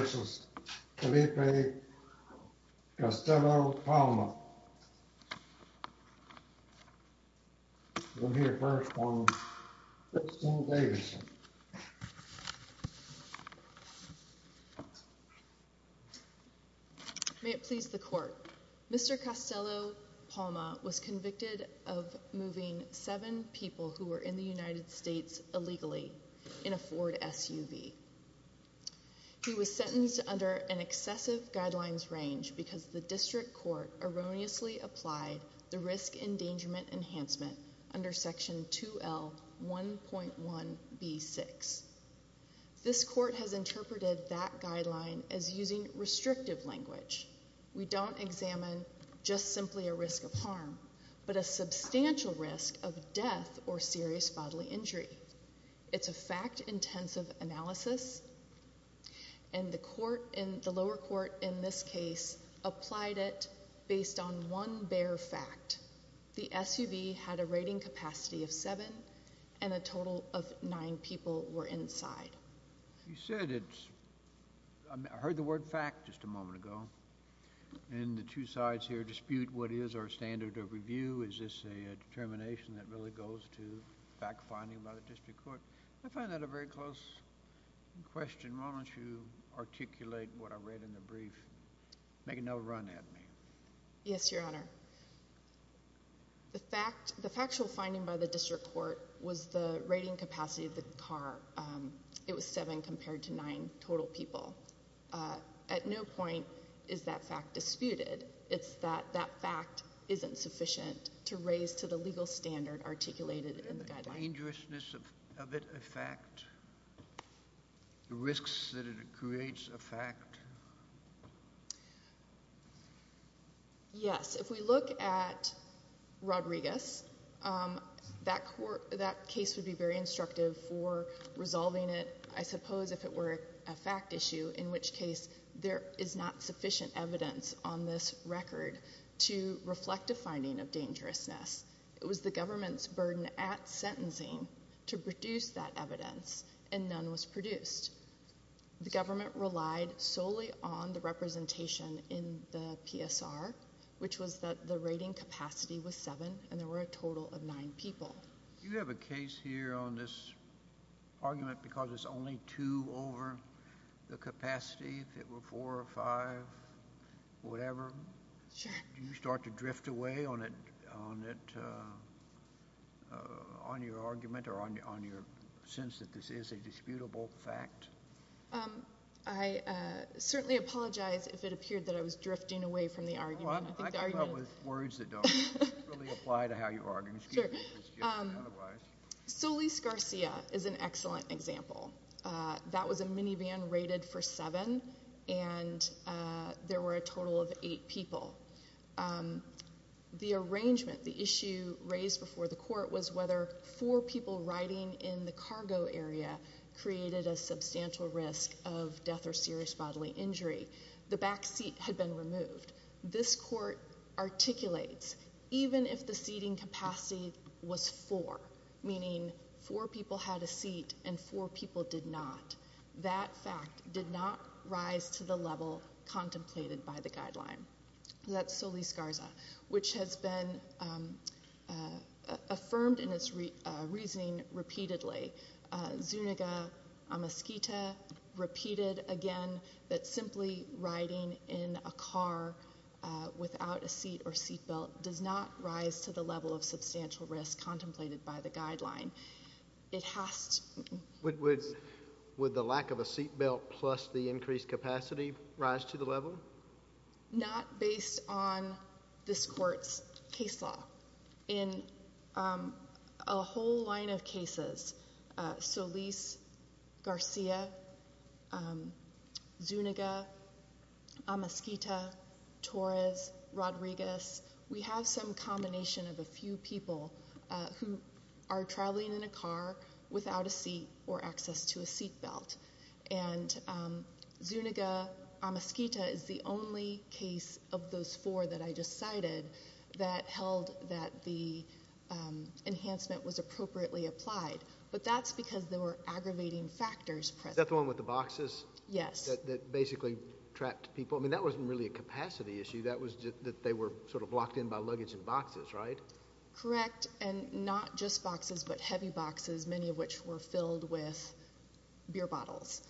May it please the court. Mr. Castelo-Palma was convicted of moving seven people who were in the United States illegally in a Ford SUV. He was sentenced under an excessive guidelines range because the district court erroneously applied the risk endangerment enhancement under section 2L 1.1b6. This court has interpreted that guideline as using restrictive language. We don't examine just simply a risk of harm, but a substantial risk of death or serious bodily injury. It's a fact-intensive analysis and the lower court in this case applied it based on one bare fact. The SUV had a rating capacity of seven and a total of nine people were inside. You said it's, I heard the word fact just a moment ago and the two sides here dispute what is our standard of review. Is this a determination that really goes to fact-finding by the district court? I find that a very close question. Why don't you articulate what I read in the brief. Make another run at me. Yes, your honor. The fact, the factual finding by the district court was the rating capacity of the car. It was seven compared to nine total people. At no point is that fact disputed. It's that that fact isn't sufficient to raise to the legal standard articulated in the guideline. Isn't the dangerousness of it a fact? The risks that it creates a fact? Yes, if we look at Rodriguez, that court, that case would be very instructive for resolving it. I suppose if it were a fact issue, in which case there is not sufficient evidence on this record to reflect a finding of dangerousness. It was the government's burden at sentencing to produce that evidence and none was produced. The government relied solely on the fact that it was a fact and none was produced. The government relied solely on the representation in the PSR, which was that the rating capacity was seven and there were a total of nine people. Do you have a case here on this argument because it's only two over the capacity, if it were four or five, whatever? Sure. Do you start to drift away on it, on your argument or on your sense that this is a disputable fact? I certainly apologize if it appeared that I was drifting away from the argument. I come up with words that don't really apply to how you argue. Excuse me if it's just otherwise. Solis-Garcia is an excellent example. That was a minivan rated for seven and there were a total of eight people. The arrangement, the issue raised before the court was whether four people riding in the cargo area created a substantial risk of death or serious bodily injury. The back seat had been removed. This court articulates even if the seating capacity was four, meaning four people had a seat and four people did not, that fact did not rise to the level contemplated by the guideline. That's Solis-Garcia, which has been affirmed in its reasoning repeatedly. Zuniga Amiskita repeated again that simply riding in a car without a seat or seat belt does not rise to the level of substantial risk contemplated by the guideline. Would the lack of a seat belt plus the increased capacity rise to the level? Not based on this court's case law. In a whole line of cases, Solis-Garcia, Zuniga, Amiskita, Torres, Rodriguez, we have some combination of a few people who are traveling in a car without a seat or access to a seat belt. And Zuniga Amiskita is the only case of those four that I just cited that held that the enhancement was appropriately applied. But that's because there were aggravating factors. Is that the one with the boxes? Yes. That basically trapped people? I mean, that wasn't really a capacity issue. That was that they were sort of locked in by luggage and boxes, right? Correct. And not just boxes, but heavy boxes, many of which were filled with beer bottles.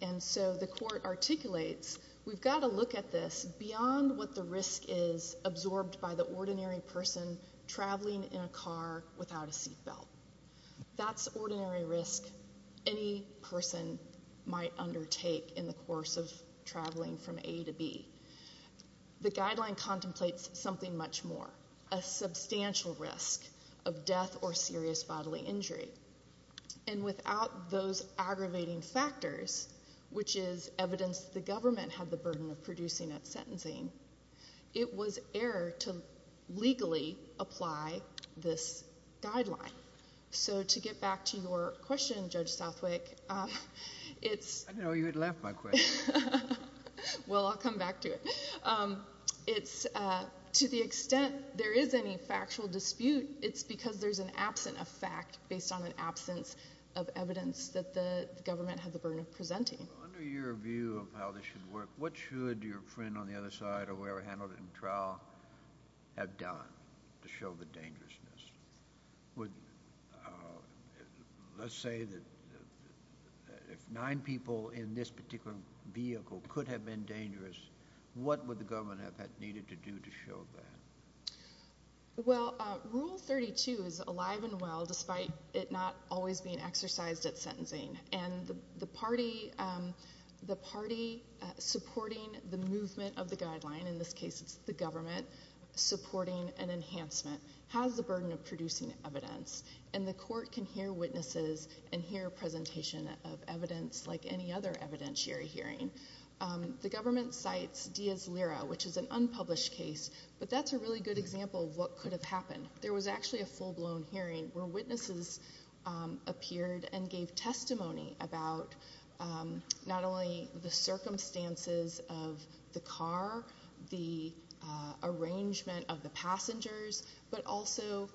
And so the court articulates, we've got to look at this beyond what the risk is absorbed by the ordinary person traveling in a car without a seat belt. That's ordinary risk any person might undertake in the course of traveling from A to B. The guideline contemplates something much more, a substantial risk of death or serious bodily injury. And without those aggravating factors, which is evidence the government had the burden of producing at sentencing, it was error to legally apply this guideline. So to get back to your question, Judge Southwick, it's— I didn't know you had left my question. Well, I'll come back to it. To the extent there is any factual dispute, it's because there's an absence of fact based on an absence of evidence that the government had the burden of presenting. Under your view of how this should work, what should your friend on the other side or whoever handled it in trial have done to show the dangerousness? Let's say that if nine people in this particular vehicle could have been dangerous, what would the government have needed to do to show that? Well, Rule 32 is alive and well, despite it not always being exercised at sentencing. And the party supporting the movement of the guideline—in this case, it's the government supporting an enhancement—has the burden of producing evidence. And the court can hear witnesses and hear a presentation of evidence like any other evidentiary hearing. The government cites Diaz-Lira, which is an unpublished case, but that's a really good example of what could have happened. There was actually a full-blown hearing where witnesses appeared and gave testimony about not only the circumstances of the car, the arrangement of the passengers, but also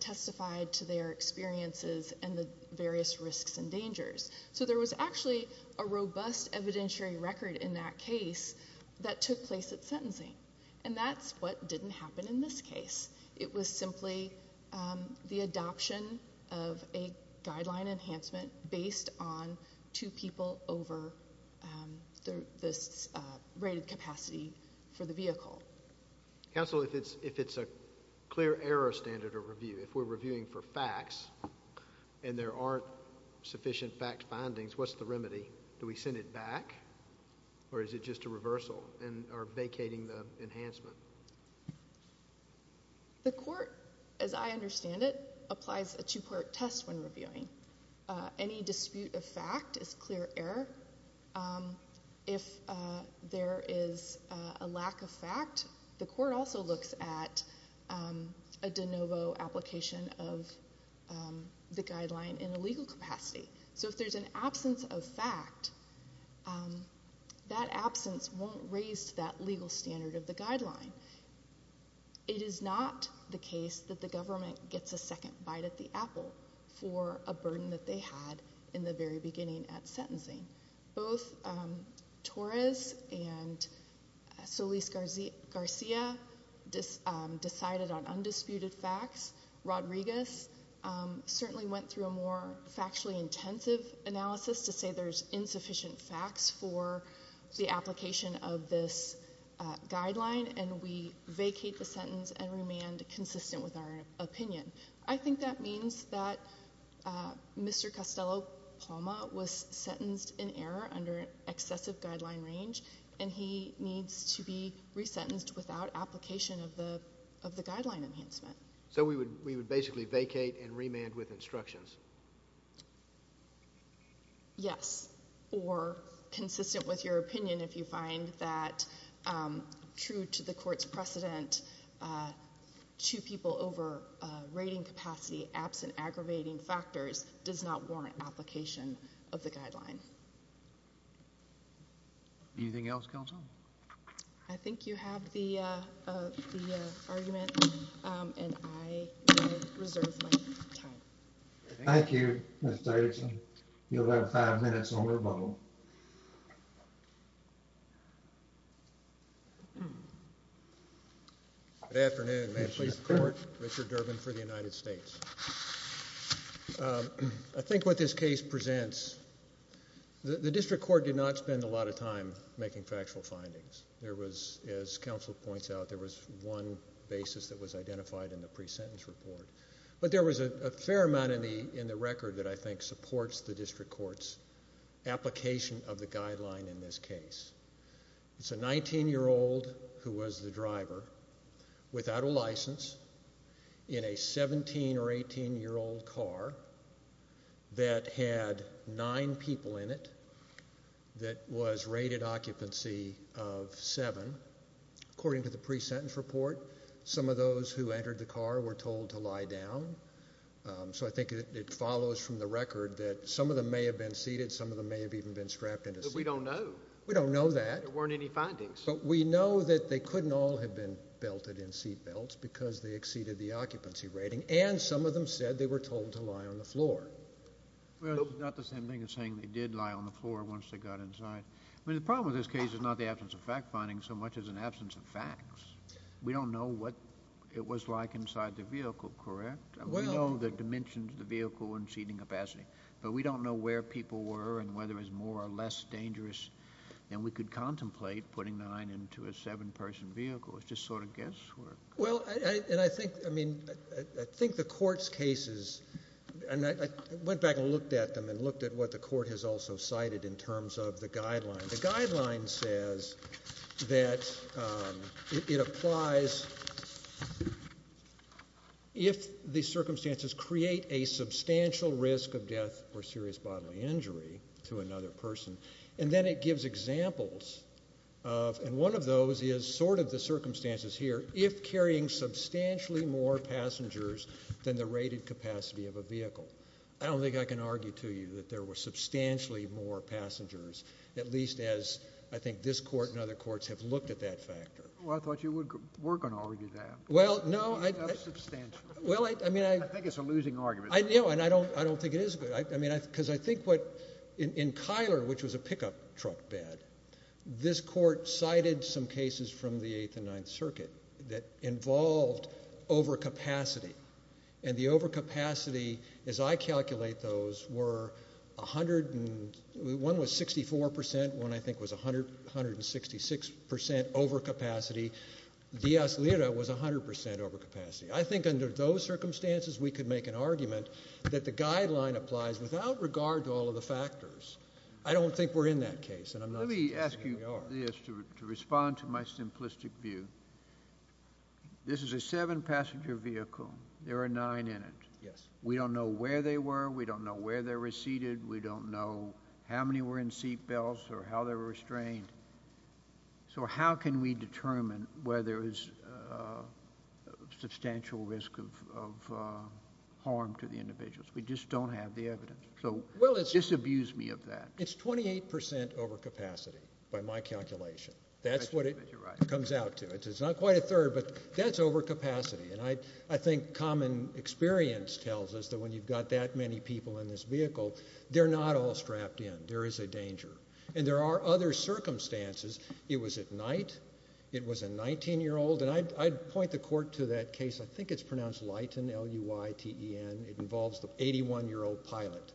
testified to their experiences and the various risks and dangers. So there was actually a robust evidentiary record in that case that took place at sentencing. And that's what didn't happen in this case. It was simply the adoption of a guideline enhancement based on two people over this rated capacity for the vehicle. Counsel, if it's a clear error standard of review, if we're reviewing for facts and there aren't sufficient fact findings, what's the remedy? Do we send it back or is it just a reversal or vacating the enhancement? The court, as I understand it, applies a two-part test when reviewing. Any dispute of fact is clear error. If there is a lack of fact, the court also looks at a de novo application of the guideline in a legal capacity. So if there's an absence of fact, that absence won't raise that legal standard of the guideline. It is not the case that the government gets a second bite at the apple for a burden that they had in the very beginning at sentencing. Both Torres and Solis-Garcia decided on undisputed facts. Rodriguez certainly went through a more factually intensive analysis to say there's insufficient facts for the application of this guideline. And we vacate the sentence and remain consistent with our opinion. I think that means that Mr. Costello-Palma was sentenced in error under excessive guideline range and he needs to be resentenced without application of the guideline enhancement. So we would basically vacate and remand with instructions? Yes. Or consistent with your opinion if you find that true to the court's precedent, two people over rating capacity absent aggravating factors does not warrant application of the guideline. Anything else, counsel? I think you have the argument and I reserve my time. Thank you, Mr. Davidson. You'll have five minutes on rebuttal. Good afternoon. May it please the court. Richard Durbin for the United States. I think what this case presents, the district court did not spend a lot of time making factual findings. There was, as counsel points out, there was one basis that was identified in the pre-sentence report. But there was a fair amount in the record that I think supports the district court's application of the guideline in this case. It's a 19-year-old who was the driver without a license in a 17 or 18-year-old car that had nine people in it that was rated occupancy of seven. According to the pre-sentence report, some of those who entered the car were told to lie down. So I think it follows from the record that some of them may have been seated. Some of them may have even been strapped into seats. But we don't know. We don't know that. There weren't any findings. But we know that they couldn't all have been belted in seat belts because they exceeded the occupancy rating. And some of them said they were told to lie on the floor. Well, it's not the same thing as saying they did lie on the floor once they got inside. I mean, the problem with this case is not the absence of fact-finding so much as an absence of facts. We don't know what it was like inside the vehicle, correct? We know the dimensions of the vehicle and seating capacity. But we don't know where people were and whether it was more or less dangerous than we could contemplate putting nine into a seven-person vehicle. It's just sort of guesswork. Well, and I think the court's cases, and I went back and looked at them The guideline says that it applies if the circumstances create a substantial risk of death or serious bodily injury to another person. And then it gives examples of, and one of those is sort of the circumstances here, if carrying substantially more passengers than the rated capacity of a vehicle. I don't think I can argue to you that there were substantially more passengers at least as I think this court and other courts have looked at that factor. Well, I thought you were going to argue that. Well, no. That's substantial. Well, I mean, I I think it's a losing argument. I know, and I don't think it is. Because I think what, in Kyler, which was a pickup truck bed, this court cited some cases from the 8th and 9th Circuit that involved overcapacity. And the overcapacity, as I calculate those, were 100, one was 64 percent, one I think was 166 percent overcapacity. Diaz-Lira was 100 percent overcapacity. I think under those circumstances we could make an argument that the guideline applies without regard to all of the factors. I don't think we're in that case, and I'm not suggesting we are. Let me ask you this to respond to my simplistic view. This is a seven-passenger vehicle. There are nine in it. Yes. We don't know where they were. We don't know where they were seated. We don't know how many were in seat belts or how they were restrained. So how can we determine whether there is a substantial risk of harm to the individuals? We just don't have the evidence. So disabuse me of that. It's 28 percent overcapacity by my calculation. That's what it comes out to. It's not quite a third, but that's overcapacity. And I think common experience tells us that when you've got that many people in this vehicle, they're not all strapped in. There is a danger. And there are other circumstances. It was at night. It was a 19-year-old. And I'd point the court to that case. I think it's pronounced Leighton, L-U-I-T-E-N. It involves the 81-year-old pilot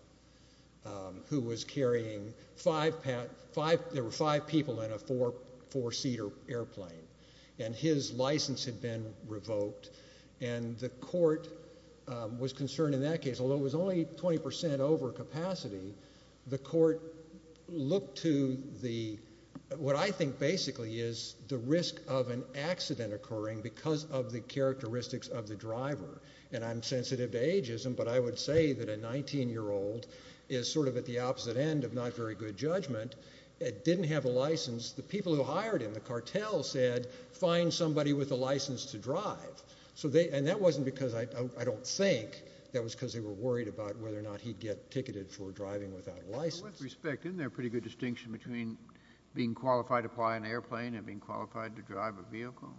who was carrying five people in a four-seater airplane. And his license had been revoked. And the court was concerned in that case, although it was only 20 percent overcapacity, the court looked to what I think basically is the risk of an accident occurring because of the characteristics of the driver. And I'm sensitive to ageism, but I would say that a 19-year-old is sort of at the opposite end of not very good judgment. It didn't have a license. The people who hired him, the cartel said, find somebody with a license to drive. And that wasn't because I don't think. That was because they were worried about whether or not he'd get ticketed for driving without a license. With respect, isn't there a pretty good distinction between being qualified to fly an airplane and being qualified to drive a vehicle?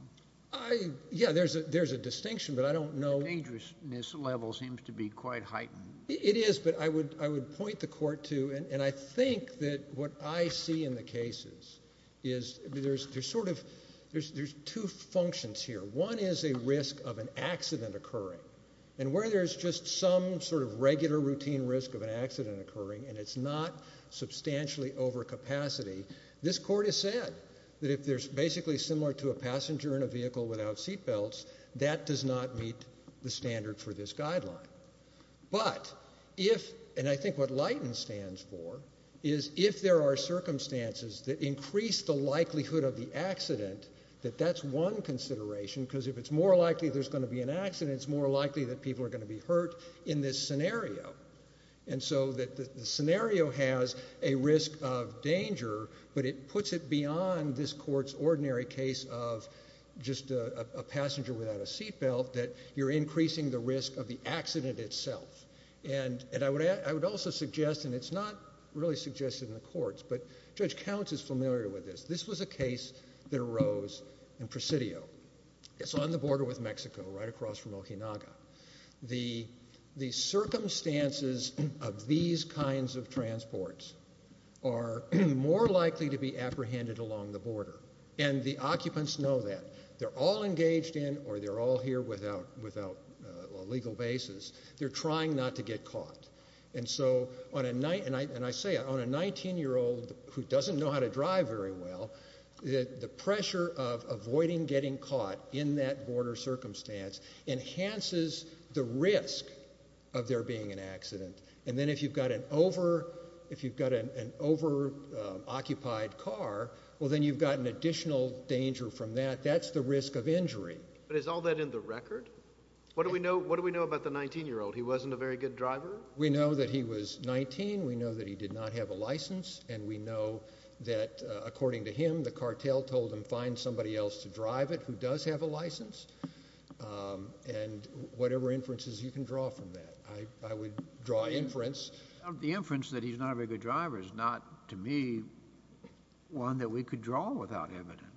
Yeah, there's a distinction, but I don't know. The dangerousness level seems to be quite heightened. It is, but I would point the court to, and I think that what I see in the cases is there's sort of, there's two functions here. One is a risk of an accident occurring. And where there's just some sort of regular routine risk of an accident occurring and it's not substantially overcapacity, this court has said that if there's basically similar to a passenger in a vehicle without seatbelts, that does not meet the standard for this guideline. But if, and I think what Leighton stands for, is if there are circumstances that increase the likelihood of the accident, that that's one consideration, because if it's more likely there's going to be an accident, it's more likely that people are going to be hurt in this scenario. And so the scenario has a risk of danger, but it puts it beyond this court's ordinary case of just a passenger without a seatbelt, that you're increasing the risk of the accident itself. And I would also suggest, and it's not really suggested in the courts, but Judge Counts is familiar with this. This was a case that arose in Presidio. It's on the border with Mexico, right across from Ohinaga. The circumstances of these kinds of transports are more likely to be apprehended along the border. And the occupants know that. They're all engaged in, or they're all here without legal basis. They're trying not to get caught. And so, and I say it, on a 19-year-old who doesn't know how to drive very well, the pressure of avoiding getting caught in that border circumstance enhances the risk of there being an accident. And then if you've got an over, if you've got an over-occupied car, well then you've got an additional danger from that. That's the risk of injury. But is all that in the record? What do we know, what do we know about the 19-year-old? He wasn't a very good driver? We know that he was 19. We know that he did not have a license. And we know that, according to him, the cartel told him find somebody else to drive it who does have a license. And whatever inferences you can draw from that. I would draw inference. The inference that he's not a very good driver is not, to me, one that we could draw without evidence.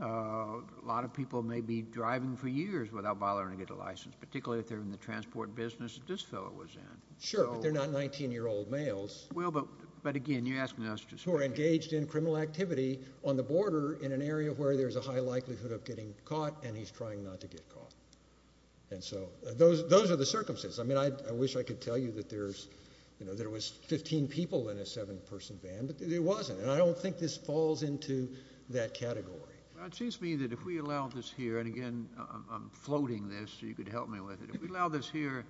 A lot of people may be driving for years without bothering to get a license, particularly if they're in the transport business that this fellow was in. Sure, but they're not 19-year-old males. Well, but again, you're asking us to speak. Who are engaged in criminal activity on the border in an area where there's a high likelihood of getting caught and he's trying not to get caught. And so, those are the circumstances. I mean, I wish I could tell you that there was 15 people in a seven-person van, but there wasn't. And I don't think this falls into that category. It seems to me that if we allow this here, and again, I'm floating this so you could help me with it. If we allow this here,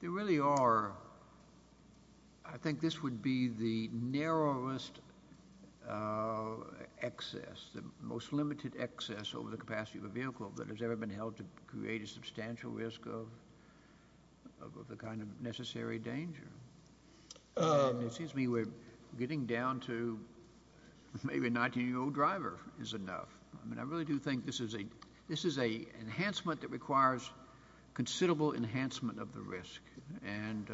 there really are, I think this would be the narrowest excess, the most limited excess over the capacity of a vehicle that has ever been held to create a substantial risk of the kind of necessary danger. And it seems to me we're getting down to maybe a 19-year-old driver is enough. I mean, I really do think this is an enhancement that requires considerable enhancement of the risk. And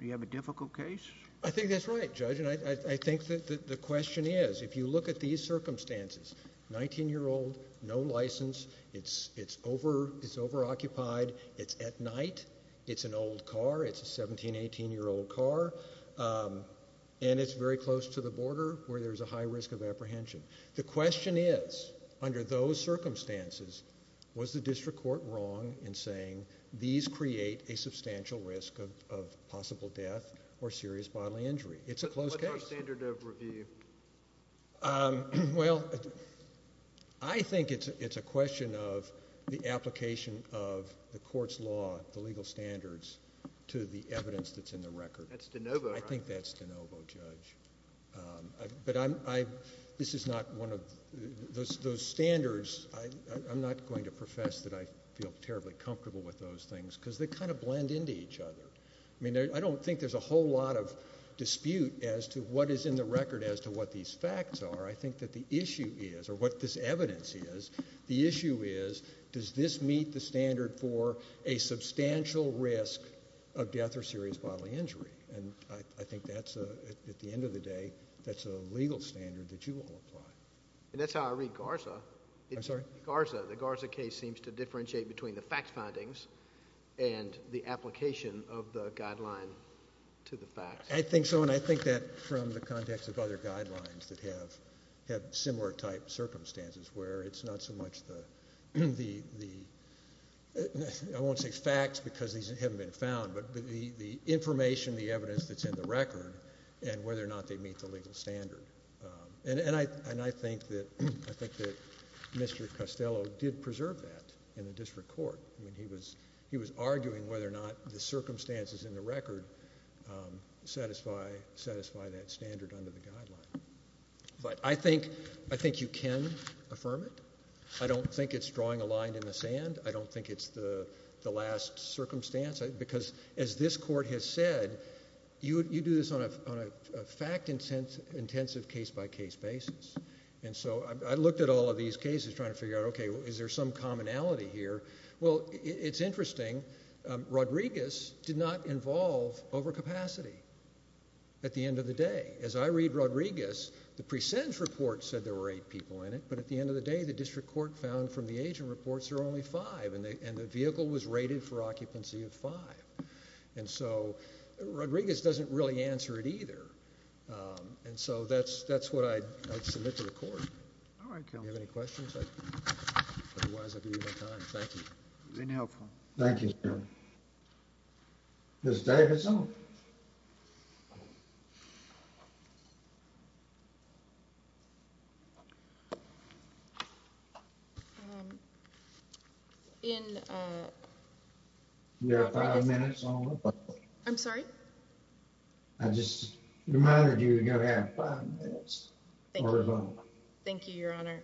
you have a difficult case? I think that's right, Judge, and I think that the question is, if you look at these circumstances, 19-year-old, no license, it's over-occupied, it's at night, it's an old car, it's a 17, 18-year-old car, and it's very close to the border where there's a high risk of apprehension. The question is, under those circumstances, was the district court wrong in saying these create a substantial risk of possible death or serious bodily injury? It's a close case. What's our standard of review? Well, I think it's a question of the application of the court's law, the legal standards, to the evidence that's in the record. That's de novo, right? I think that's de novo, Judge. But this is not one of those standards. I'm not going to profess that I feel terribly comfortable with those things because they kind of blend into each other. I mean, I don't think there's a whole lot of dispute as to what is in the record as to what these facts are. I think that the issue is, or what this evidence is, the issue is, does this meet the standard for a substantial risk of death or serious bodily injury? And I think that's, at the end of the day, that's a legal standard that you will apply. And that's how I read Garza. I'm sorry? Garza. The Garza case seems to differentiate between the fact findings and the application of the guideline to the facts. I think so, and I think that from the context of other guidelines that have similar type circumstances where it's not so much the... I won't say facts because these haven't been found, but the information, the evidence that's in the record and whether or not they meet the legal standard. And I think that Mr Costello did preserve that in the district court. I mean, he was arguing whether or not the circumstances in the record satisfy that standard under the guideline. But I think you can affirm it. I don't think it's drawing a line in the sand. I don't think it's the last circumstance. Because as this court has said, you do this on a fact-intensive, case-by-case basis. And so I looked at all of these cases trying to figure out, okay, is there some commonality here? Well, it's interesting, Rodriguez did not involve overcapacity at the end of the day. As I read Rodriguez, the presentence report said there were 8 people in it, but at the end of the day, the district court found from the agent reports there were only 5, and the vehicle was rated for occupancy of 5. And so Rodriguez doesn't really answer it either. And so that's what I'd submit to the court. All right, counsel. Do you have any questions? Otherwise, I'll give you my time. Thank you. Is there any help? Thank you, sir. Ms. Davidson? In, uh... You have 5 minutes only. I'm sorry? I just reminded you you have 5 minutes. Thank you. Thank you, Your Honor.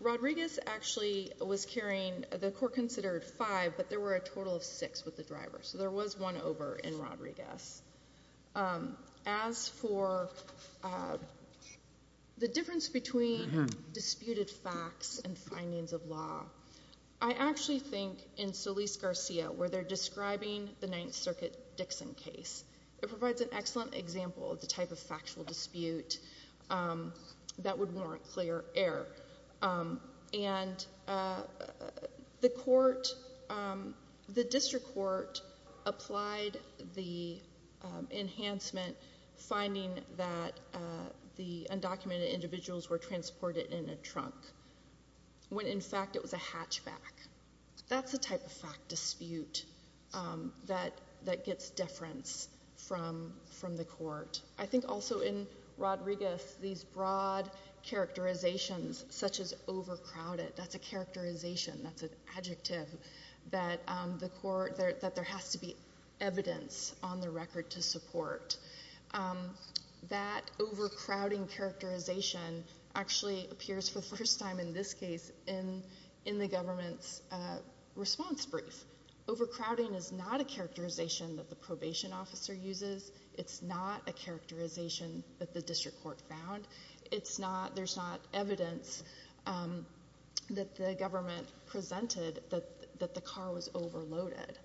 Rodriguez actually was carrying... The court considered 5, but there were a total of 6 with the driver, so there was one over in Rodriguez. As for the difference between disputed facts and findings of law, I actually think in Solis-Garcia, where they're describing the 9th Circuit Dixon case, it provides an excellent example of the type of factual dispute that would warrant clear error. And the court... The district court applied the enhancement finding that the undocumented individuals were transported in a trunk when, in fact, it was a hatchback. That's the type of fact dispute that gets deference from the court. I think also in Rodriguez, these broad characterizations, such as overcrowded, that's a characterization, that's an adjective, that the court... That there has to be evidence on the record to support. That overcrowding characterization actually appears for the first time in this case in the government's response brief. Overcrowding is not a characterization that the probation officer uses. It's not a characterization that the district court found. It's not... There's not evidence that the government presented that the car was overloaded.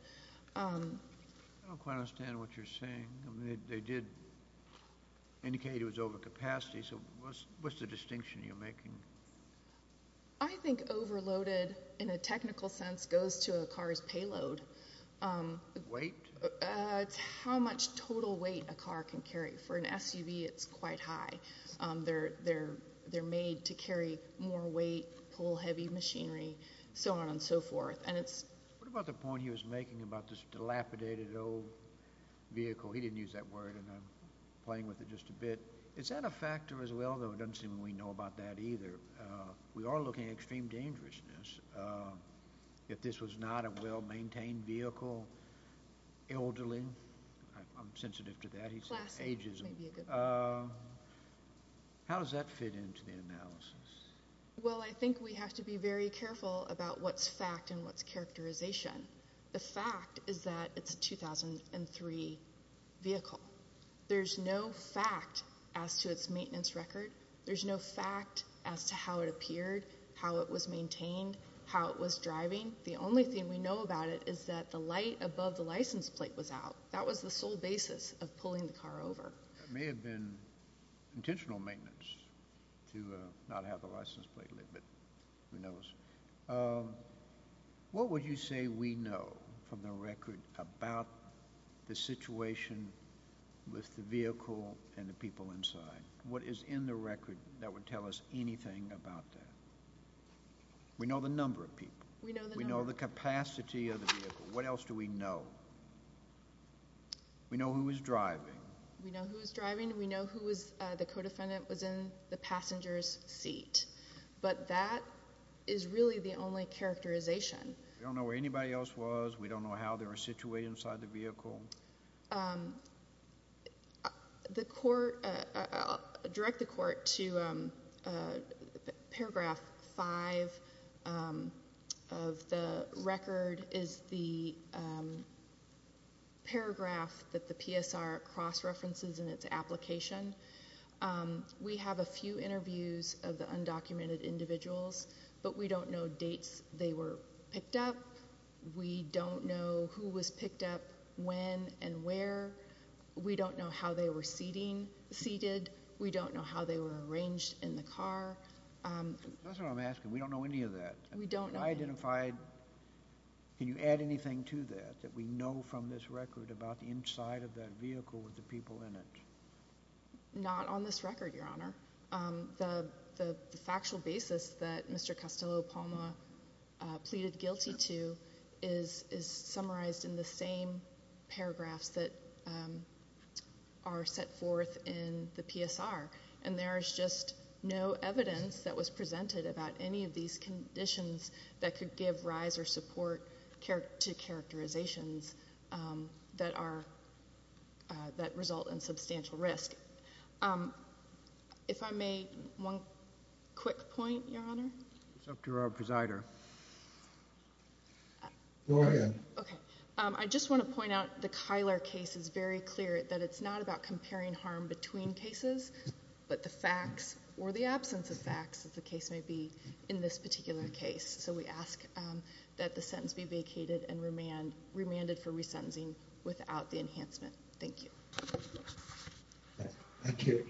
I don't quite understand what you're saying. They did indicate it was over capacity, so what's the distinction you're making? I think overloaded, in a technical sense, goes to a car's payload. Weight? It's how much total weight a car can carry. For an SUV, it's quite high. They're made to carry more weight, pull heavy machinery, so on and so forth. What about the point he was making about this dilapidated old vehicle? He didn't use that word, and I'm playing with it just a bit. Is that a factor as well? It doesn't seem we know about that either. We are looking at extreme dangerousness. If this was not a well-maintained vehicle, elderly... I'm sensitive to that. He said ageism. How does that fit into the analysis? Well, I think we have to be very careful about what's fact and what's characterization. The fact is that it's a 2003 vehicle. There's no fact as to its maintenance record. There's no fact as to how it appeared, how it was maintained, how it was driving. The only thing we know about it is that the light above the license plate was out. That was the sole basis of pulling the car over. It may have been intentional maintenance to not have the license plate lit, but who knows? What would you say we know from the record about the situation with the vehicle and the people inside? What is in the record that would tell us anything about that? We know the number of people. We know the capacity of the vehicle. What else do we know? We know who was driving. We know who was driving. We know who was... the co-defendant was in the passenger's seat. But that is really the only characterization. We don't know where anybody else was. We don't know how they were situated inside the vehicle. The court... I'll direct the court to Paragraph 5 of the record is the paragraph that the PSR cross-references in its application. We have a few interviews of the undocumented individuals, but we don't know dates they were picked up. We don't know who was picked up, when, and where. We don't know how they were seated. We don't know how they were arranged in the car. That's what I'm asking. We don't know any of that. We don't know. Can you add anything to that, that we know from this record about the inside of that vehicle with the people in it? Not on this record, Your Honour. The factual basis that Mr Castello-Palma pleaded guilty to is summarized in the same paragraphs that are set forth in the PSR, and there is just no evidence that was presented about any of these conditions that could give rise or support to characterizations that result in substantial risk. If I may, one quick point, Your Honour. It's up to our presider. Go ahead. I just want to point out the Kylar case is very clear that it's not about comparing harm between cases, but the facts or the absence of facts that the case may be in this particular case. So we ask that the sentence be vacated and remanded for resentencing without the enhancement. Thank you. Thank you.